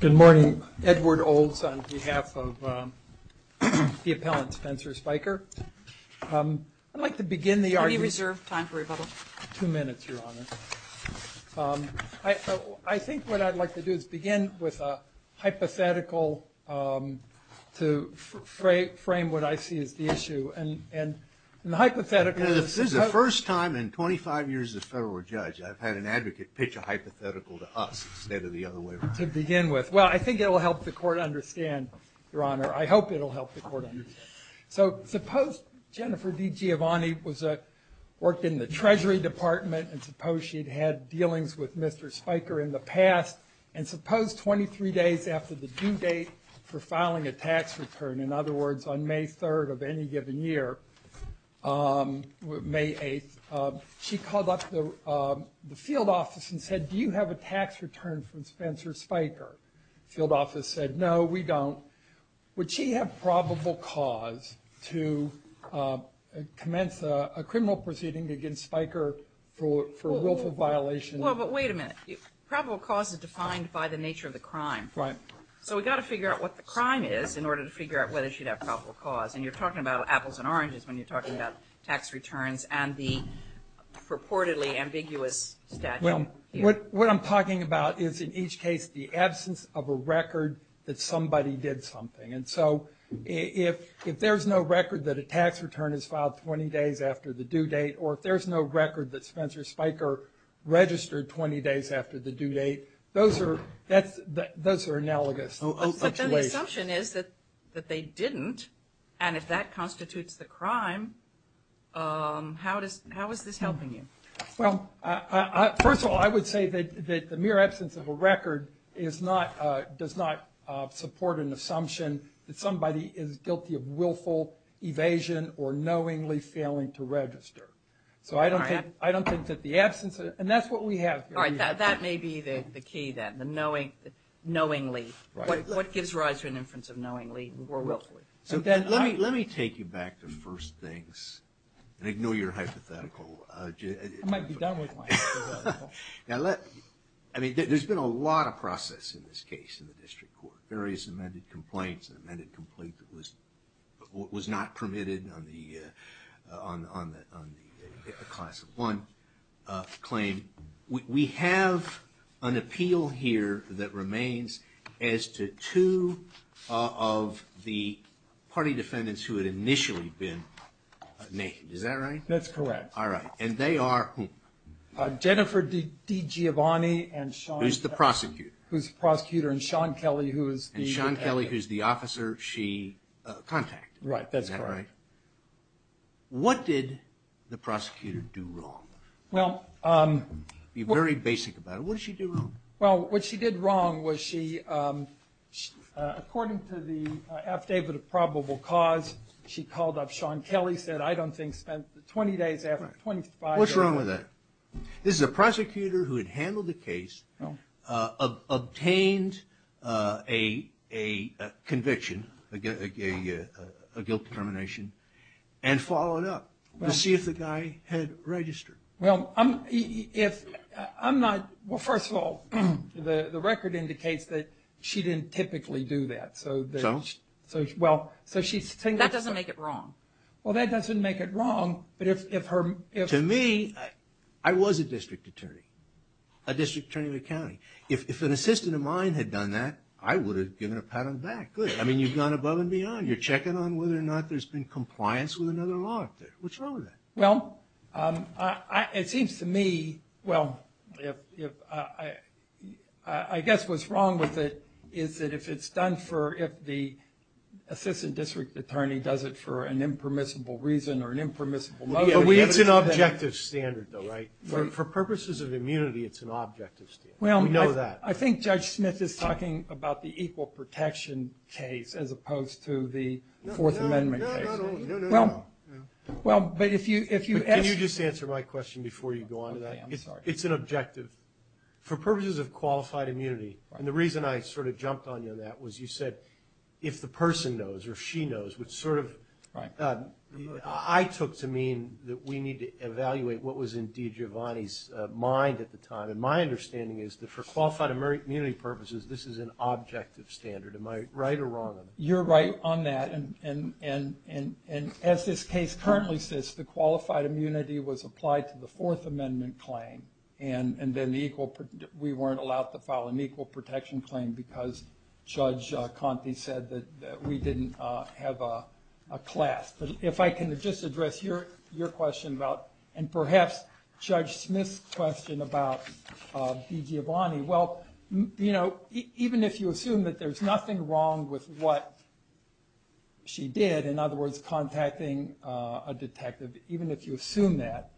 Good morning. Edward Olds on behalf of the appellant Spencer Spiker. I'd like to begin the argument. I think what I'd like to do is begin with a hypothetical to frame what I see as the issue. This is the first time in 25 years as a federal judge I've had an advocate pitch a hypothetical to us instead of the other way around. To begin with. Well, I think it will help the court understand, Your Honor. I hope it will help the court understand. So suppose Jennifer DiGiovanni worked in the Treasury Department and suppose she'd had dealings with Mr. Spiker in the past. And suppose 23 days after the due date for filing a tax return, in other words, on May 3rd of any given year, May 8th, she called up the field office and said, do you have a tax return from Spencer Spiker? The field office said, no, we don't. Would she have probable cause to commence a criminal proceeding against Spiker for a willful violation? Well, but wait a minute. Probable cause is defined by the nature of the crime. So we've got to figure out what the crime is in order to figure out whether she'd have probable cause. And you're talking about apples and oranges when you're talking about tax returns and the purportedly ambiguous statute. What I'm talking about is, in each case, the absence of a record that somebody did something. And so if there's no record that a tax return is filed 20 days after the due date, or if there's no record that Spencer Spiker registered 20 days after the due date, those are analogous situations. But then the assumption is that they didn't, and if that constitutes the crime, how is this helping you? Well, first of all, I would say that the mere absence of a record does not support an assumption that somebody is guilty of willful evasion or knowingly failing to register. So I don't think that the absence, and that's what we have. All right, that may be the key then, the knowingly. What gives rise to an inference of knowingly or willfully? Let me take you back to first things and ignore your hypothetical. I might be done with my hypothetical. I mean, there's been a lot of process in this case in the district court. Various amended complaints, an amended complaint that was not permitted on the Class of 1 claim. We have an appeal here that remains as to two of the party defendants who had initially been naked, is that right? That's correct. All right, and they are whom? Jennifer DiGiovanni and Sean Kelly. Who's the prosecutor. Who's the prosecutor and Sean Kelly who is the officer. And Sean Kelly who's the officer she contacted. Right, that's correct. What did the prosecutor do wrong? Be very basic about it. What did she do wrong? Well, what she did wrong was she, according to the affidavit of probable cause, she called up Sean Kelly and said, I don't think spent 20 days after 25 days. What's wrong with that? This is a prosecutor who had handled the case, obtained a conviction, a guilt determination, and followed up to see if the guy had registered. Well, first of all, the record indicates that she didn't typically do that. So? That doesn't make it wrong. Well, that doesn't make it wrong. To me, I was a district attorney, a district attorney of the county. If an assistant of mine had done that, I would have given a pat on the back. I mean, you've gone above and beyond. You're checking on whether or not there's been compliance with another law. What's wrong with that? Well, it seems to me, well, I guess what's wrong with it is that if it's done for, if the assistant district attorney does it for an impermissible reason or an impermissible motive. It's an objective standard, though, right? For purposes of immunity, it's an objective standard. We know that. I think Judge Smith is talking about the equal protection case as opposed to the Fourth Amendment case. No, no, no. Well, but if you ask me. Can you just answer my question before you go on to that? Okay, I'm sorry. It's an objective. For purposes of qualified immunity, and the reason I sort of jumped on you on that was you said, if the person knows or she knows, which sort of I took to mean that we need to evaluate what was in For qualified immunity purposes, this is an objective standard. Am I right or wrong on that? You're right on that, and as this case currently says, the qualified immunity was applied to the Fourth Amendment claim, and then we weren't allowed to file an equal protection claim because Judge Conte said that we didn't have a class. If I can just address your question about, and perhaps Judge Smith's question about DeGiovanni, well, even if you assume that there's nothing wrong with what she did, in other words, contacting a detective, even if you assume that,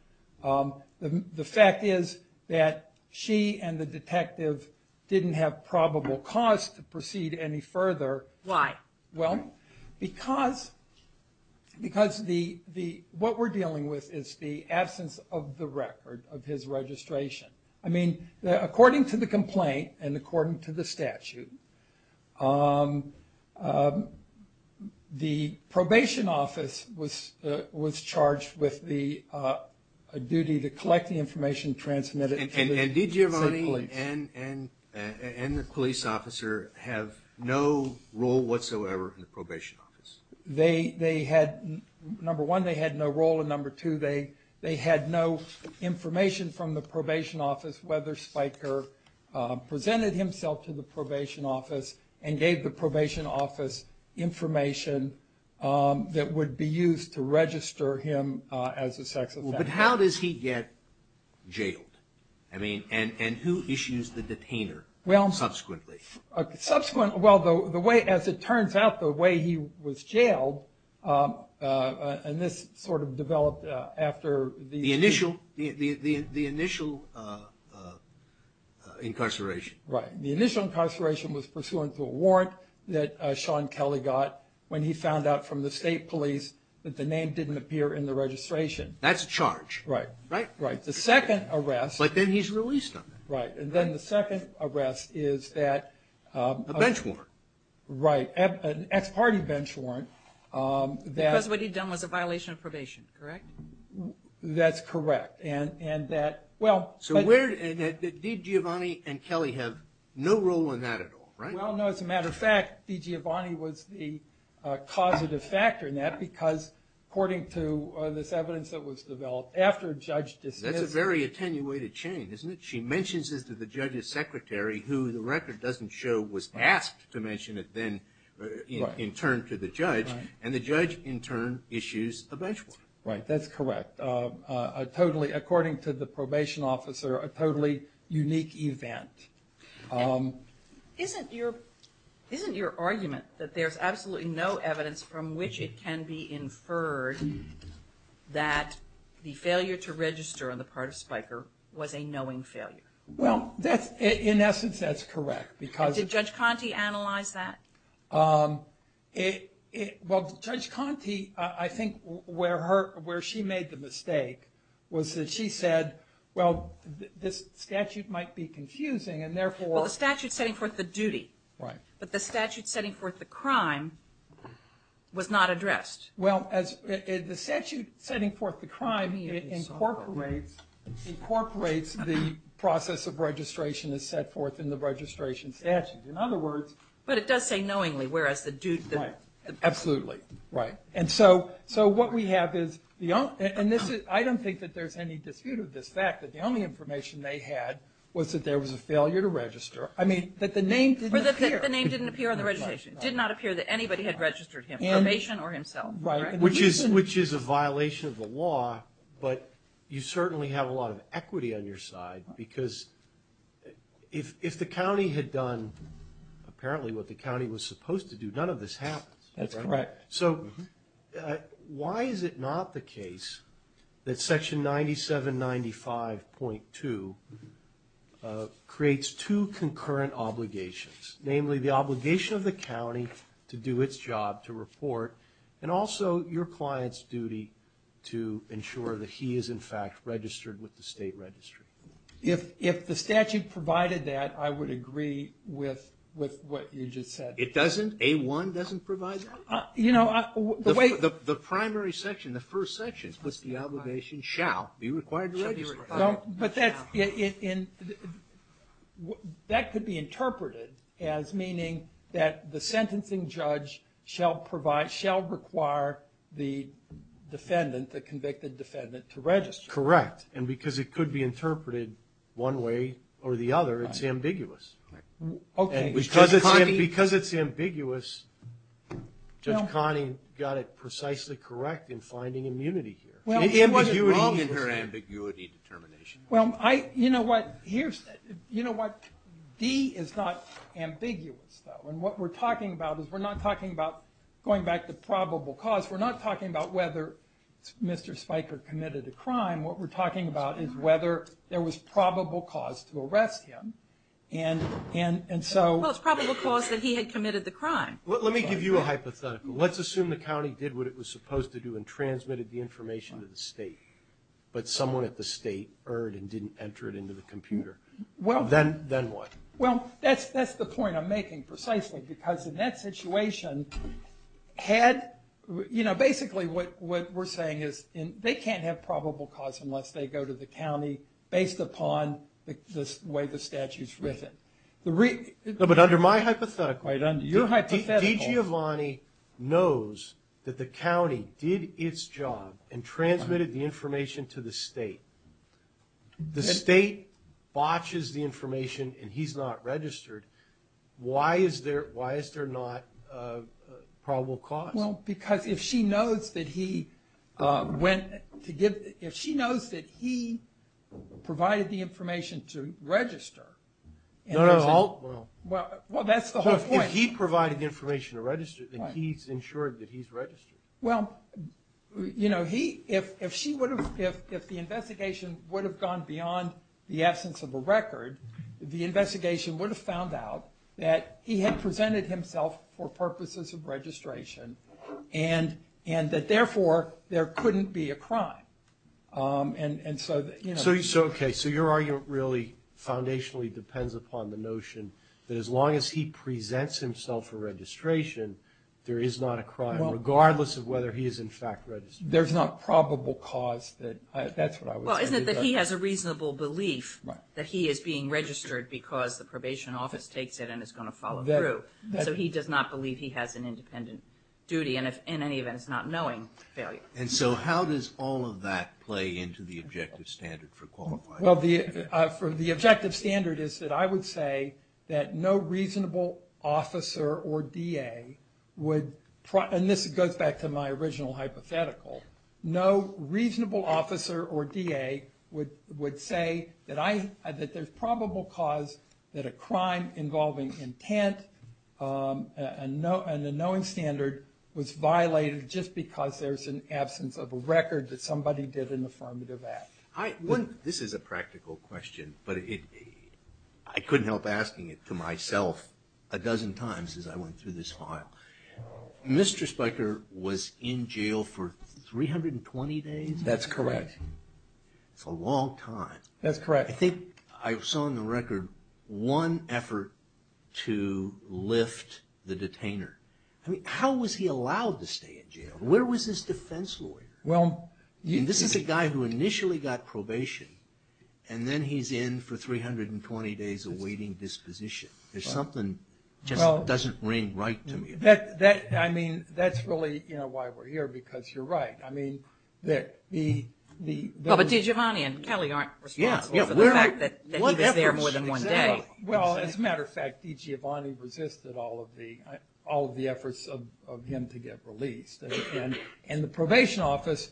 the fact is that she and the detective didn't have probable cause to proceed any further. Why? Well, because what we're dealing with is the absence of the record of his registration. I mean, according to the complaint and according to the statute, the probation office was charged with the duty to collect the information transmitted to the police. Judge Conte and the police officer have no role whatsoever in the probation office? They had, number one, they had no role, and number two, they had no information from the probation office whether Spiker presented himself to the probation office and gave the probation office information that would be used to register him as a sex offender. But how does he get jailed? I mean, and who issues the detainer subsequently? Subsequent, well, the way, as it turns out, the way he was jailed, and this sort of developed after the... The initial incarceration. Right. The initial incarceration was pursuant to a warrant that Sean Kelly got when he found out from the state police that the name didn't appear in the registration. That's a charge. Right. Right. Right. The second arrest... But then he's released on that. Right. And then the second arrest is that... A bench warrant. Right. An ex-party bench warrant that... Because what he'd done was a violation of probation, correct? That's correct. And that, well... So where, did DiGiovanni and Kelly have no role in that at all, right? Well, no, as a matter of fact, DiGiovanni was the causative factor in that because, according to this evidence that was developed after a judge dismissed... That's a very attenuated chain, isn't it? She mentions this to the judge's secretary, who the record doesn't show was asked to mention it then in turn to the judge. Right. And the judge, in turn, issues the bench warrant. Right. That's correct. A totally, according to the probation officer, a totally unique event. Isn't your argument that there's absolutely no evidence from which it can be inferred that the failure to register on the part of Spiker was a knowing failure? Well, in essence, that's correct because... And did Judge Conte analyze that? Well, Judge Conte, I think where she made the mistake was that she said, well, this statute might be confusing, and therefore... Well, the statute's setting forth the duty. Right. But the statute setting forth the crime was not addressed. Well, the statute setting forth the crime incorporates the process of registration that's set forth in the registration statute. In other words... But it does say knowingly, whereas the duty... Right. Absolutely. Right. And so what we have is, and I don't think that there's any dispute of this fact that the only information they had was that there was a failure to register. I mean, that the name didn't appear. The name didn't appear on the registration. It did not appear that anybody had registered him, probation or himself. Right. Which is a violation of the law, but you certainly have a lot of equity on your side because if the county had done apparently what the county was supposed to do, none of this happens. That's correct. So why is it not the case that Section 9795.2 creates two concurrent obligations, namely the obligation of the county to do its job, to report, and also your client's duty to ensure that he is, in fact, registered with the state registry? If the statute provided that, I would agree with what you just said. It doesn't? A1 doesn't provide that? The primary section, the first section, puts the obligation, shall be required to register. But that could be interpreted as meaning that the sentencing judge shall require the defendant, the convicted defendant, to register. Correct. And because it could be interpreted one way or the other, it's ambiguous. Okay. Because it's ambiguous, Judge Conning got it precisely correct in finding immunity here. She wasn't wrong in her ambiguity determination. You know what, D is not ambiguous, though. And what we're talking about is we're not talking about going back to probable cause. We're not talking about whether Mr. Spiker committed a crime. What we're talking about is whether there was probable cause to arrest him. Well, it's probable cause that he had committed the crime. Let me give you a hypothetical. Let's assume the county did what it was supposed to do and transmitted the information to the state, but someone at the state heard and didn't enter it into the computer. Then what? Well, that's the point I'm making precisely, because in that situation, basically what we're saying is they can't have probable cause unless they go to the county based upon the way the statute's written. No, but under my hypothetical, D. Giovanni knows that the county did its job and transmitted the information to the state. The state botches the information and he's not registered. Why is there not probable cause? Well, because if she knows that he provided the information to register. No, no. Well, that's the whole point. If he provided the information to register, then he's ensured that he's registered. Well, if the investigation would have gone beyond the absence of a record, the investigation would have found out that he had presented himself for purposes of registration and that, therefore, there couldn't be a crime. Okay, so your argument really foundationally depends upon the notion that as long as he presents himself for registration, there is not a crime, regardless of whether he is in fact registered. There's not probable cause. Well, isn't it that he has a reasonable belief that he is being registered because the probation office takes it and is going to follow through, so he does not believe he has an independent duty, and if in any event it's not knowing, failure. And so how does all of that play into the objective standard for qualifying? Well, the objective standard is that I would say that no reasonable officer or DA would, and this goes back to my original hypothetical, no reasonable officer or DA would say that there's probable cause that a crime involving intent and a knowing standard was violated just because there's an absence of a record that somebody did an affirmative act. This is a practical question, but I couldn't help asking it to myself a dozen times as I went through this file. Mr. Spiker was in jail for 320 days? That's correct. That's a long time. That's correct. I think I saw on the record one effort to lift the detainer. How was he allowed to stay in jail? Where was his defense lawyer? This is a guy who initially got probation, and then he's in for 320 days awaiting disposition. There's something that just doesn't ring right to me. That's really why we're here, because you're right. But DiGiovanni and Kelly aren't responsible for the fact that he was there more than one day. Well, as a matter of fact, DiGiovanni resisted all of the efforts of him to get released, and the probation office,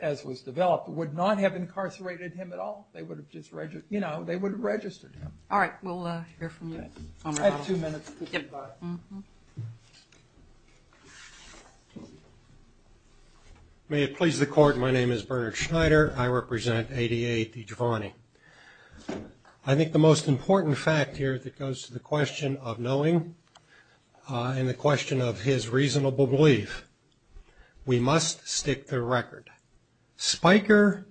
as was developed, would not have incarcerated him at all. They would have registered him. All right. We'll hear from you. I have two minutes. May it please the Court, my name is Bernard Schneider. I represent ADA DiGiovanni. I think the most important fact here that goes to the question of knowing and the question of his reasonable belief, we must stick the record. Spiker,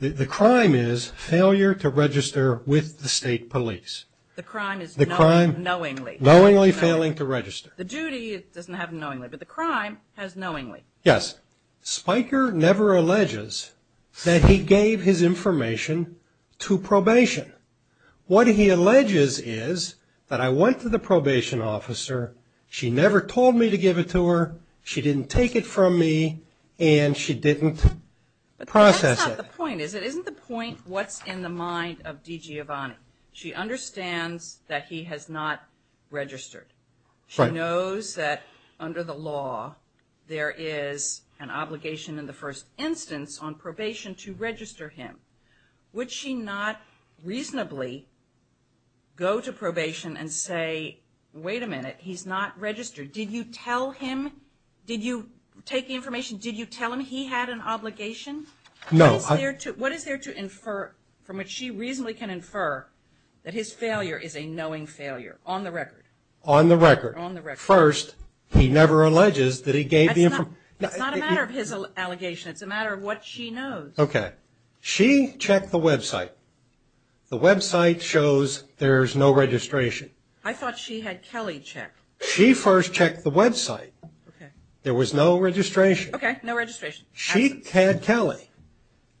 the crime is failure to register with the state police. The crime is knowingly. Knowingly failing to register. The duty doesn't have knowingly, but the crime has knowingly. Yes. Spiker never alleges that he gave his information to probation. What he alleges is that I went to the probation officer, she never told me to give it to her, she didn't take it from me, and she didn't process it. But that's not the point, is it? Isn't the point what's in the mind of DiGiovanni? She understands that he has not registered. She knows that under the law there is an obligation in the first instance on probation to register him. Would she not reasonably go to probation and say, wait a minute, he's not registered. Did you tell him, did you take the information, did you tell him he had an obligation? No. What is there to infer from which she reasonably can infer that his failure is a knowing failure on the record? On the record. On the record. First, he never alleges that he gave the information. It's not a matter of his allegation, it's a matter of what she knows. Okay. She checked the website. The website shows there's no registration. I thought she had Kelly check. She first checked the website. Okay. There was no registration. Okay, no registration. She had Kelly.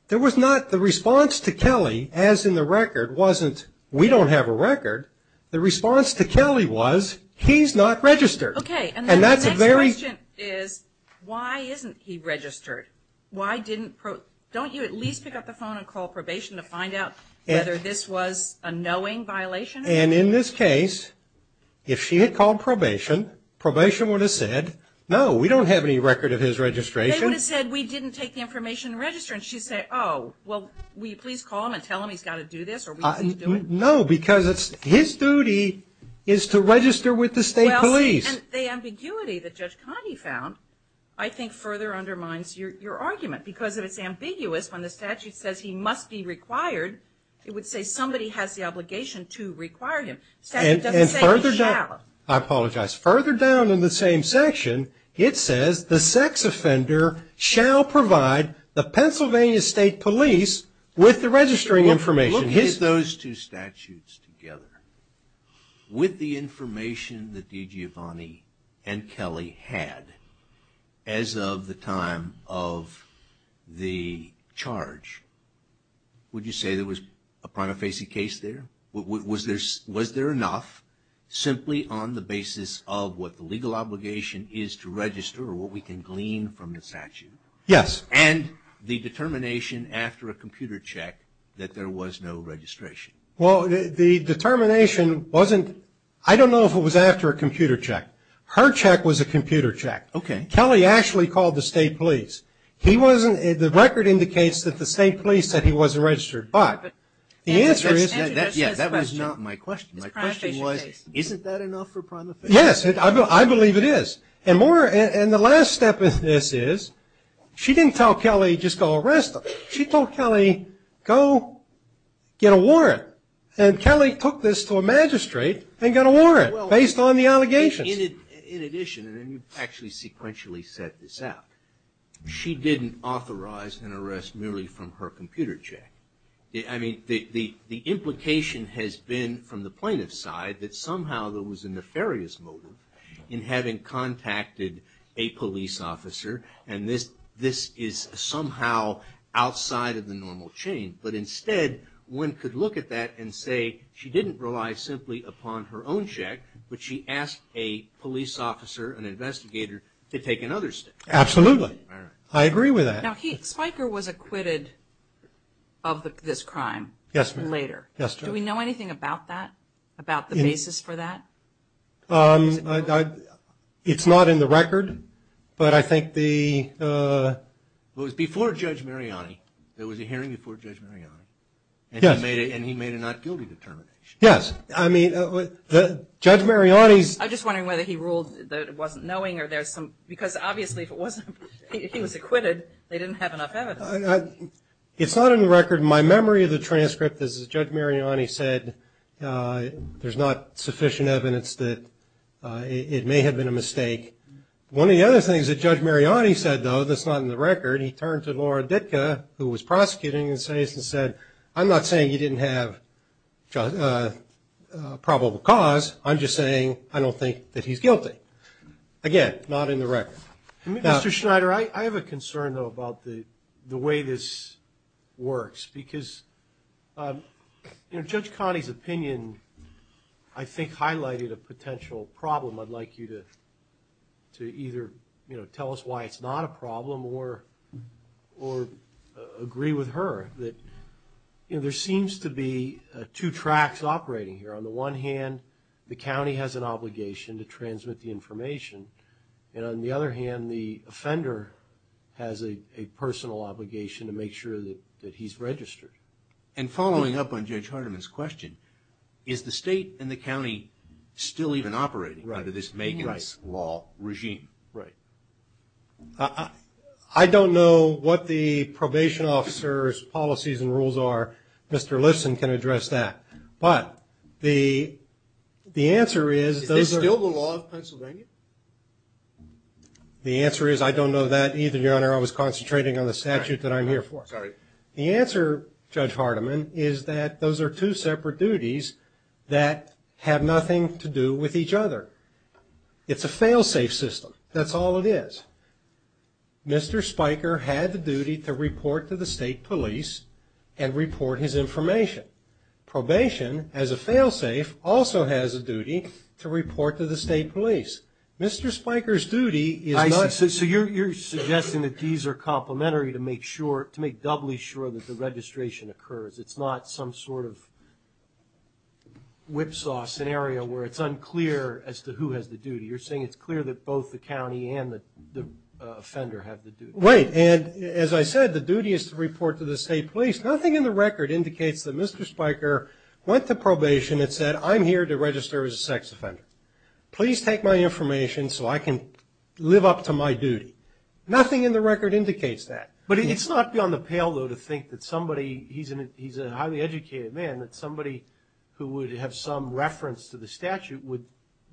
There was not the response to Kelly as in the record wasn't we don't have a record. The response to Kelly was he's not registered. Okay. And the next question is why isn't he registered? Don't you at least pick up the phone and call probation to find out whether this was a knowing violation? And in this case, if she had called probation, probation would have said, no, we don't have any record of his registration. They would have said we didn't take the information and register. And she'd say, oh, well, will you please call him and tell him he's got to do this or we can't do it? No, because it's his duty is to register with the state police. Well, and the ambiguity that Judge Cogney found, I think, further undermines your argument. Because if it's ambiguous, when the statute says he must be required, it would say somebody has the obligation to require him. The statute doesn't say he shall. I apologize. Further down in the same section, it says the sex offender shall provide the Pennsylvania State Police with the registering information. Look at those two statutes together. With the information that D.G. Avani and Kelly had as of the time of the charge, would you say there was a prima facie case there? Was there enough simply on the basis of what the legal obligation is to register or what we can glean from the statute? Yes. And the determination after a computer check that there was no registration. Well, the determination wasn't, I don't know if it was after a computer check. Her check was a computer check. Okay. Kelly actually called the state police. The record indicates that the state police said he wasn't registered. But the answer is, yeah, that was not my question. My question was, isn't that enough for prima facie? Yes. I believe it is. And the last step of this is, she didn't tell Kelly, just go arrest him. She told Kelly, go get a warrant. And Kelly took this to a magistrate and got a warrant based on the allegations. In addition, and you actually sequentially set this out, she didn't authorize an arrest merely from her computer check. I mean, the implication has been from the plaintiff's side that somehow there was a nefarious motive in having contacted a police officer and this is somehow outside of the normal chain. But instead, one could look at that and say she didn't rely simply upon her own check, but she asked a police officer, an investigator, to take another step. Absolutely. I agree with that. Now, Spiker was acquitted of this crime later. Yes, ma'am. Do we know anything about that, about the basis for that? It's not in the record, but I think the – It was before Judge Mariani, there was a hearing before Judge Mariani. Yes. And he made a not guilty determination. Yes. I mean, Judge Mariani's – I'm just wondering whether he ruled that it wasn't knowing or there's some – because obviously if he was acquitted, they didn't have enough evidence. It's not in the record. My memory of the transcript is that Judge Mariani said there's not sufficient evidence that it may have been a mistake. One of the other things that Judge Mariani said, though, that's not in the record, he turned to Laura Ditka, who was prosecuting, and said, I'm not saying you didn't have probable cause, I'm just saying I don't think that he's guilty. Again, not in the record. Mr. Schneider, I have a concern, though, about the way this works because Judge Connie's opinion I think highlighted a potential problem. I'd like you to either tell us why it's not a problem or agree with her. There seems to be two tracks operating here. On the one hand, the county has an obligation to transmit the information, and on the other hand, the offender has a personal obligation to make sure that he's registered. And following up on Judge Hardiman's question, is the state and the county still even operating under this Megan's Law regime? Right. I don't know what the probation officer's policies and rules are. Mr. Lifson can address that. Is this still the law of Pennsylvania? The answer is I don't know that either, Your Honor. I was concentrating on the statute that I'm here for. The answer, Judge Hardiman, is that those are two separate duties that have nothing to do with each other. It's a fail-safe system. That's all it is. Mr. Spiker had the duty to report to the state police and report his information. Probation, as a fail-safe, also has a duty to report to the state police. Mr. Spiker's duty is not to do that. So you're suggesting that these are complementary to make doubly sure that the registration occurs. It's not some sort of whipsaw scenario where it's unclear as to who has the duty. You're saying it's clear that both the county and the offender have the duty. Right, and as I said, the duty is to report to the state police. Nothing in the record indicates that Mr. Spiker went to probation and said, I'm here to register as a sex offender. Please take my information so I can live up to my duty. Nothing in the record indicates that. But it's not beyond the pale, though, to think that somebody, he's a highly educated man, that somebody who would have some reference to the statute would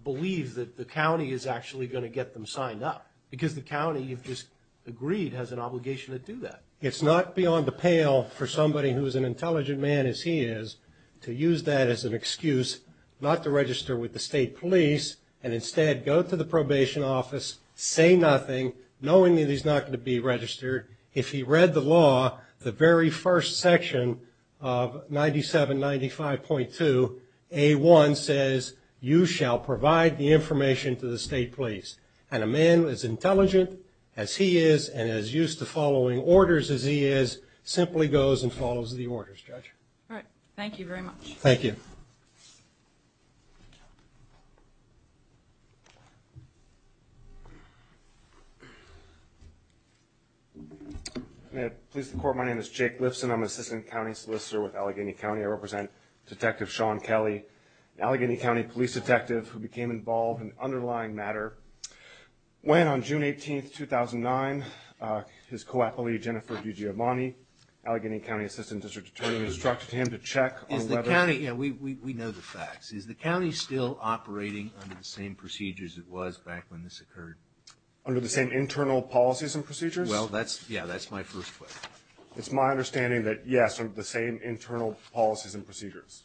believe that the county is actually going to get them signed up because the county, if it's agreed, has an obligation to do that. It's not beyond the pale for somebody who's an intelligent man as he is to use that as an excuse not to register with the state police and instead go to the probation office, say nothing, knowing that he's not going to be registered. If he read the law, the very first section of 9795.2, A-1 says you shall provide the information to the state police. And a man as intelligent as he is and as used to following orders as he is simply goes and follows the orders, Judge. All right, thank you very much. Thank you. May it please the Court, my name is Jake Lipson. I'm an assistant county solicitor with Allegheny County. I represent Detective Sean Kelly, Allegheny County police detective who became involved in the underlying matter when on June 18, 2009, his co-appellee, Jennifer DiGiovanni, Allegheny County assistant district attorney, instructed him to check on whether Is the county, you know, we know the facts. Is the county still operating under the same procedures it was back when this occurred? Under the same internal policies and procedures? Well, that's, yeah, that's my first question. It's my understanding that, yes, the same internal policies and procedures.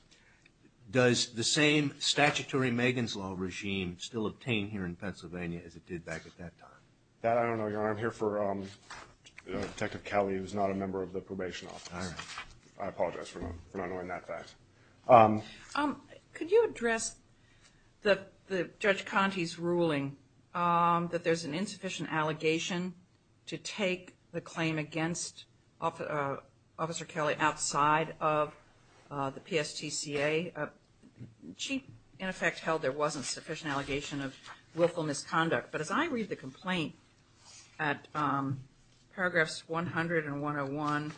Does the same statutory Megan's Law regime still obtain here in Pennsylvania as it did back at that time? That I don't know, Your Honor. I'm here for Detective Kelly who's not a member of the probation office. All right. I apologize for not knowing that fact. Could you address Judge Conte's ruling that there's an insufficient allegation to take the claim against Officer Kelly outside of the PSTCA? She, in effect, held there wasn't sufficient allegation of willful misconduct. But as I read the complaint at paragraphs 100 and 101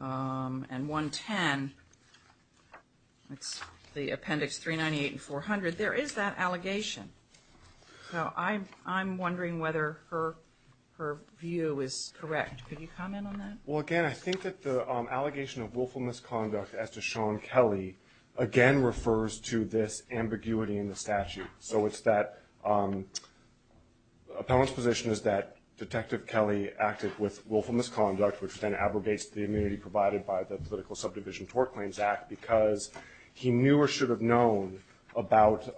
and 110, that's the appendix 398 and 400, there is that allegation. So I'm wondering whether her view is correct. Could you comment on that? Well, again, I think that the allegation of willful misconduct as to Sean Kelly again refers to this ambiguity in the statute. So it's that appellant's position is that Detective Kelly acted with willful misconduct, which then abrogates the immunity provided by the Political Subdivision Tort Claims Act because he knew or should have known about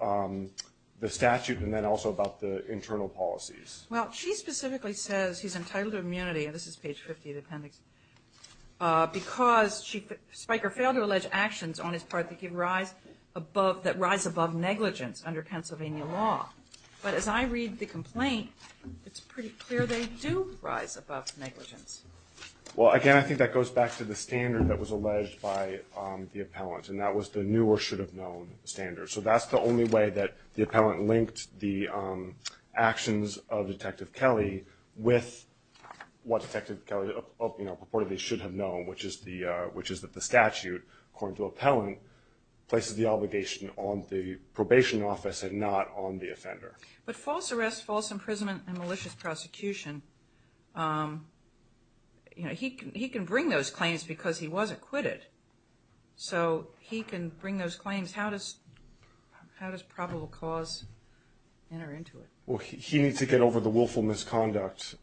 the statute and then also about the internal policies. Well, she specifically says he's entitled to immunity, and this is page 50 of the appendix, because Spiker failed to allege actions on his part that rise above negligence under Pennsylvania law. But as I read the complaint, it's pretty clear they do rise above negligence. Well, again, I think that goes back to the standard that was alleged by the appellant, and that was the knew or should have known standard. So that's the only way that the appellant linked the actions of Detective Kelly with what Detective Kelly purportedly should have known, which is that the statute, according to appellant, places the obligation on the probation office and not on the offender. But false arrest, false imprisonment, and malicious prosecution, he can bring those claims because he was acquitted. So he can bring those claims. How does probable cause enter into it? Well, he needs to get over the willful misconduct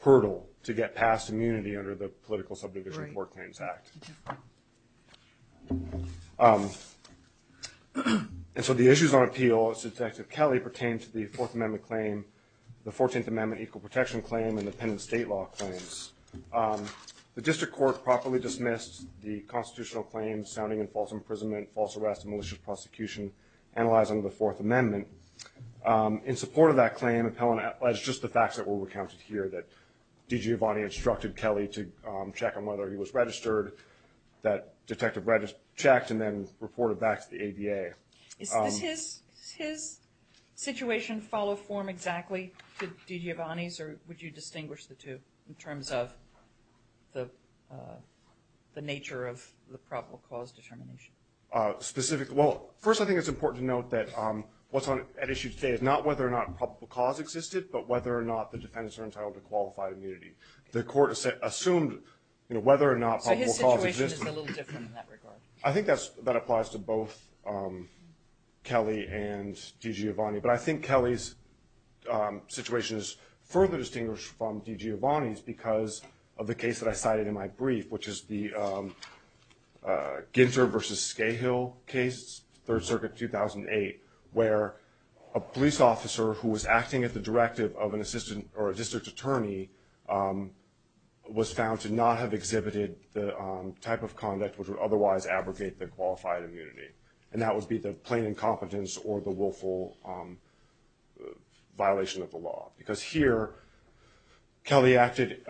hurdle to get past immunity under the Political Subdivision Tort Claims Act. And so the issues on appeal of Detective Kelly pertain to the Fourth Amendment claim, the Fourteenth Amendment Equal Protection Claim, and the Pen and State Law Claims. The district court properly dismissed the constitutional claims sounding in false imprisonment, false arrest, and malicious prosecution analyzing the Fourth Amendment. In support of that claim, appellant alleged just the facts that were recounted here, that D.G. Avani instructed Kelly to check on whether he was registered, that detective checked, and then reported back to the ADA. Does his situation follow form exactly to D.G. Avani's, or would you distinguish the two in terms of the nature of the probable cause determination? First, I think it's important to note that what's at issue today is not whether or not probable cause existed, but whether or not the defendants are entitled to qualified immunity. The court assumed whether or not probable cause existed. So his situation is a little different in that regard. I think that applies to both Kelly and D.G. Avani. But I think Kelly's situation is further distinguished from D.G. Avani's because of the case that I cited in my brief, which is the Ginter v. Scahill case, Third Circuit, 2008, where a police officer who was acting at the directive of a district attorney was found to not have exhibited the type of conduct which would otherwise abrogate the qualified immunity. And that would be the plain incompetence or the willful violation of the law. Because here, Kelly acted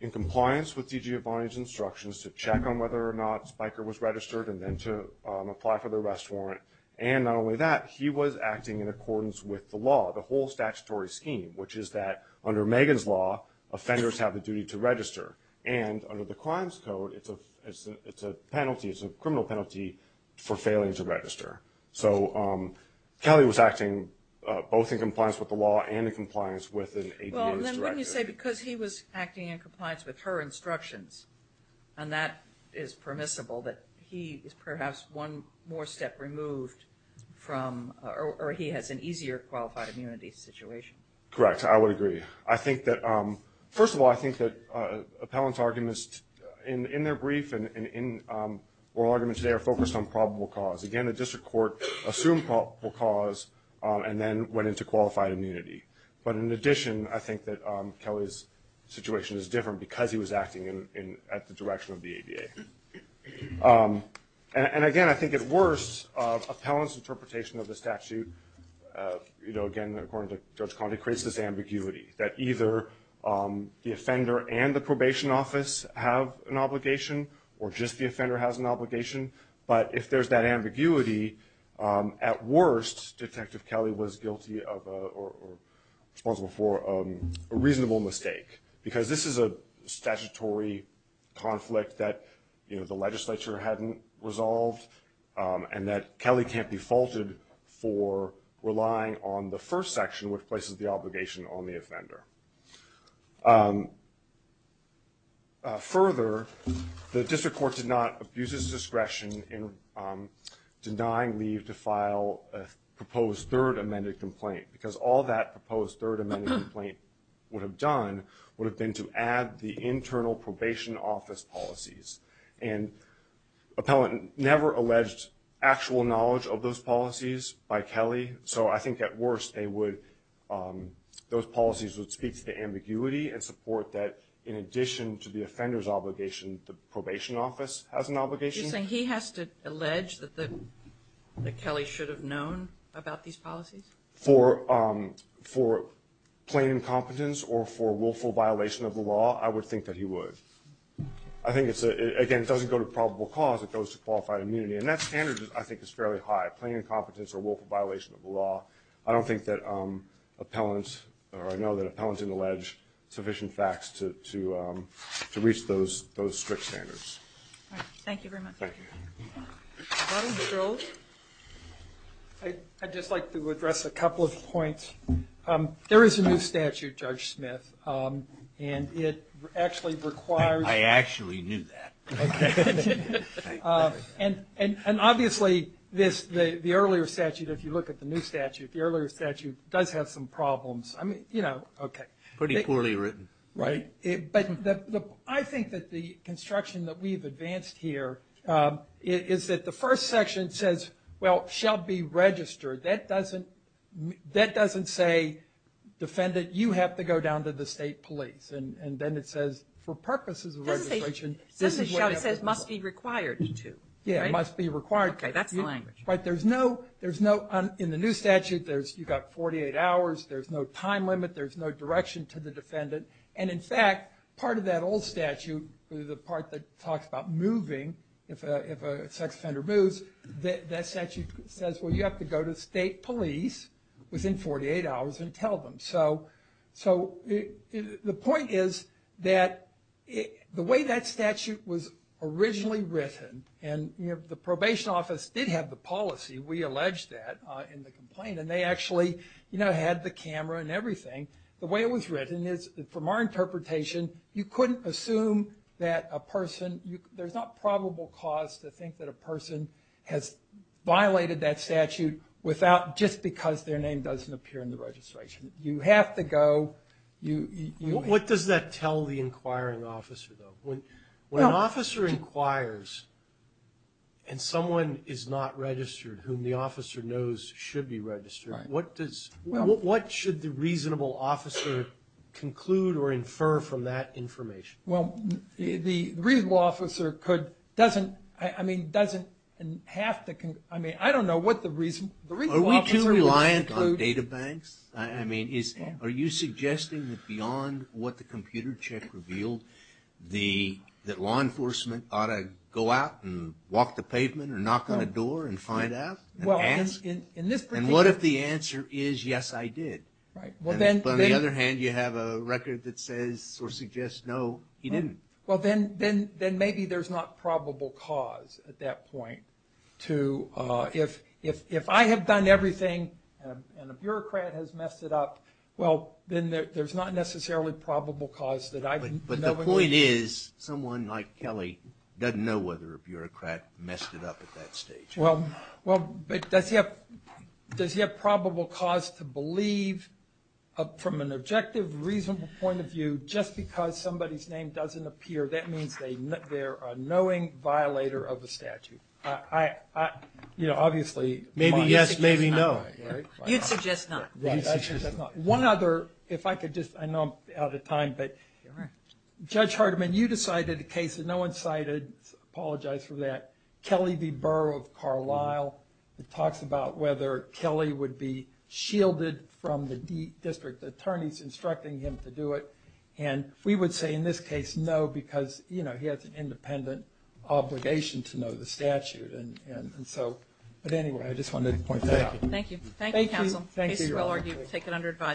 in compliance with D.G. Avani's instructions to check on whether or not Spiker was registered and then to apply for the arrest warrant. And not only that, he was acting in accordance with the law, the whole statutory scheme, which is that under Megan's law, offenders have the duty to register. And under the Crimes Code, it's a criminal penalty for failing to register. So Kelly was acting both in compliance with the law and in compliance with an ADA's directive. Well, then wouldn't you say because he was acting in compliance with her instructions, and that is permissible, that he is perhaps one more step removed from or he has an easier qualified immunity situation? Correct. I would agree. First of all, I think that appellant's arguments in their brief and in oral arguments today are focused on probable cause. Again, the district court assumed probable cause and then went into qualified immunity. But in addition, I think that Kelly's situation is different because he was acting at the direction of the ADA. And again, I think at worst, appellant's interpretation of the statute, again, according to Judge Conley, creates this ambiguity, that either the offender and the probation office have an obligation or just the offender has an obligation. But if there's that ambiguity, at worst, Detective Kelly was guilty of or responsible for a reasonable mistake because this is a statutory conflict that the legislature hadn't resolved and that Kelly can't be faulted for relying on the first section, which places the obligation on the offender. Further, the district court did not abuse its discretion in denying leave to file a proposed third amended complaint because all that proposed third amended complaint would have done would have been to add the internal probation office policies. And appellant never alleged actual knowledge of those policies by Kelly, so I think at worst those policies would speak to the ambiguity and support that in addition to the offender's obligation, the probation office has an obligation. Are you saying he has to allege that Kelly should have known about these policies? For plain incompetence or for willful violation of the law, I would think that he would. I think, again, it doesn't go to probable cause. It goes to qualified immunity, and that standard, I think, is fairly high, plain incompetence or willful violation of the law. I don't think that appellants or I know that appellants didn't allege sufficient facts to reach those strict standards. All right. Thank you very much. Thank you. Dr. Jones? I'd just like to address a couple of points. There is a new statute, Judge Smith, and it actually requires I actually knew that. Okay. And obviously the earlier statute, if you look at the new statute, the earlier statute does have some problems. I mean, you know, okay. Pretty poorly written. Right. But I think that the construction that we've advanced here is that the first section says, well, shall be registered. That doesn't say, defendant, you have to go down to the state police. And then it says, for purposes of registration, this is what happens. It says must be required to. Yeah, must be required to. Okay. That's the language. Right. There's no, in the new statute, you've got 48 hours. There's no time limit. There's no direction to the defendant. And, in fact, part of that old statute, the part that talks about moving, if a sex offender moves, that statute says, well, you have to go to state police within 48 hours and tell them. So the point is that the way that statute was originally written, and the probation office did have the policy, we allege that, in the complaint, and they actually, you know, had the camera and everything. The way it was written is, from our interpretation, you couldn't assume that a person, there's not probable cause to think that a person has violated that statute without, just because their name doesn't appear in the registration. You have to go. What does that tell the inquiring officer, though? When an officer inquires and someone is not registered, whom the officer knows should be registered, what should the reasonable officer conclude or infer from that information? Well, the reasonable officer could, doesn't, I mean, doesn't have to, I mean, I don't know what the reasonable officer would conclude. Are we too reliant on data banks? I mean, are you suggesting that beyond what the computer check revealed, that law enforcement ought to go out and walk the pavement or knock on a door and find out and ask? And what if the answer is, yes, I did? But on the other hand, you have a record that says or suggests, no, he didn't. Well, then maybe there's not probable cause at that point to, if I have done everything and a bureaucrat has messed it up, well, then there's not necessarily probable cause that I've, But the point is, someone like Kelly doesn't know whether a bureaucrat messed it up at that stage. Well, but does he have probable cause to believe, from an objective, reasonable point of view, just because somebody's name doesn't appear, that means they're a knowing violator of a statute. I, you know, obviously, Maybe yes, maybe no. You'd suggest not. One other, if I could just, I know I'm out of time, but Judge Hardiman, you decided a case that no one cited, I apologize for that, Kelly v. Burr of Carlisle. It talks about whether Kelly would be shielded from the district attorneys instructing him to do it. And we would say in this case, no, because, you know, he has an independent obligation to know the statute. And so, but anyway, I just wanted to point that out. Thank you. Thank you, counsel. Thank you. We'll take it under advice.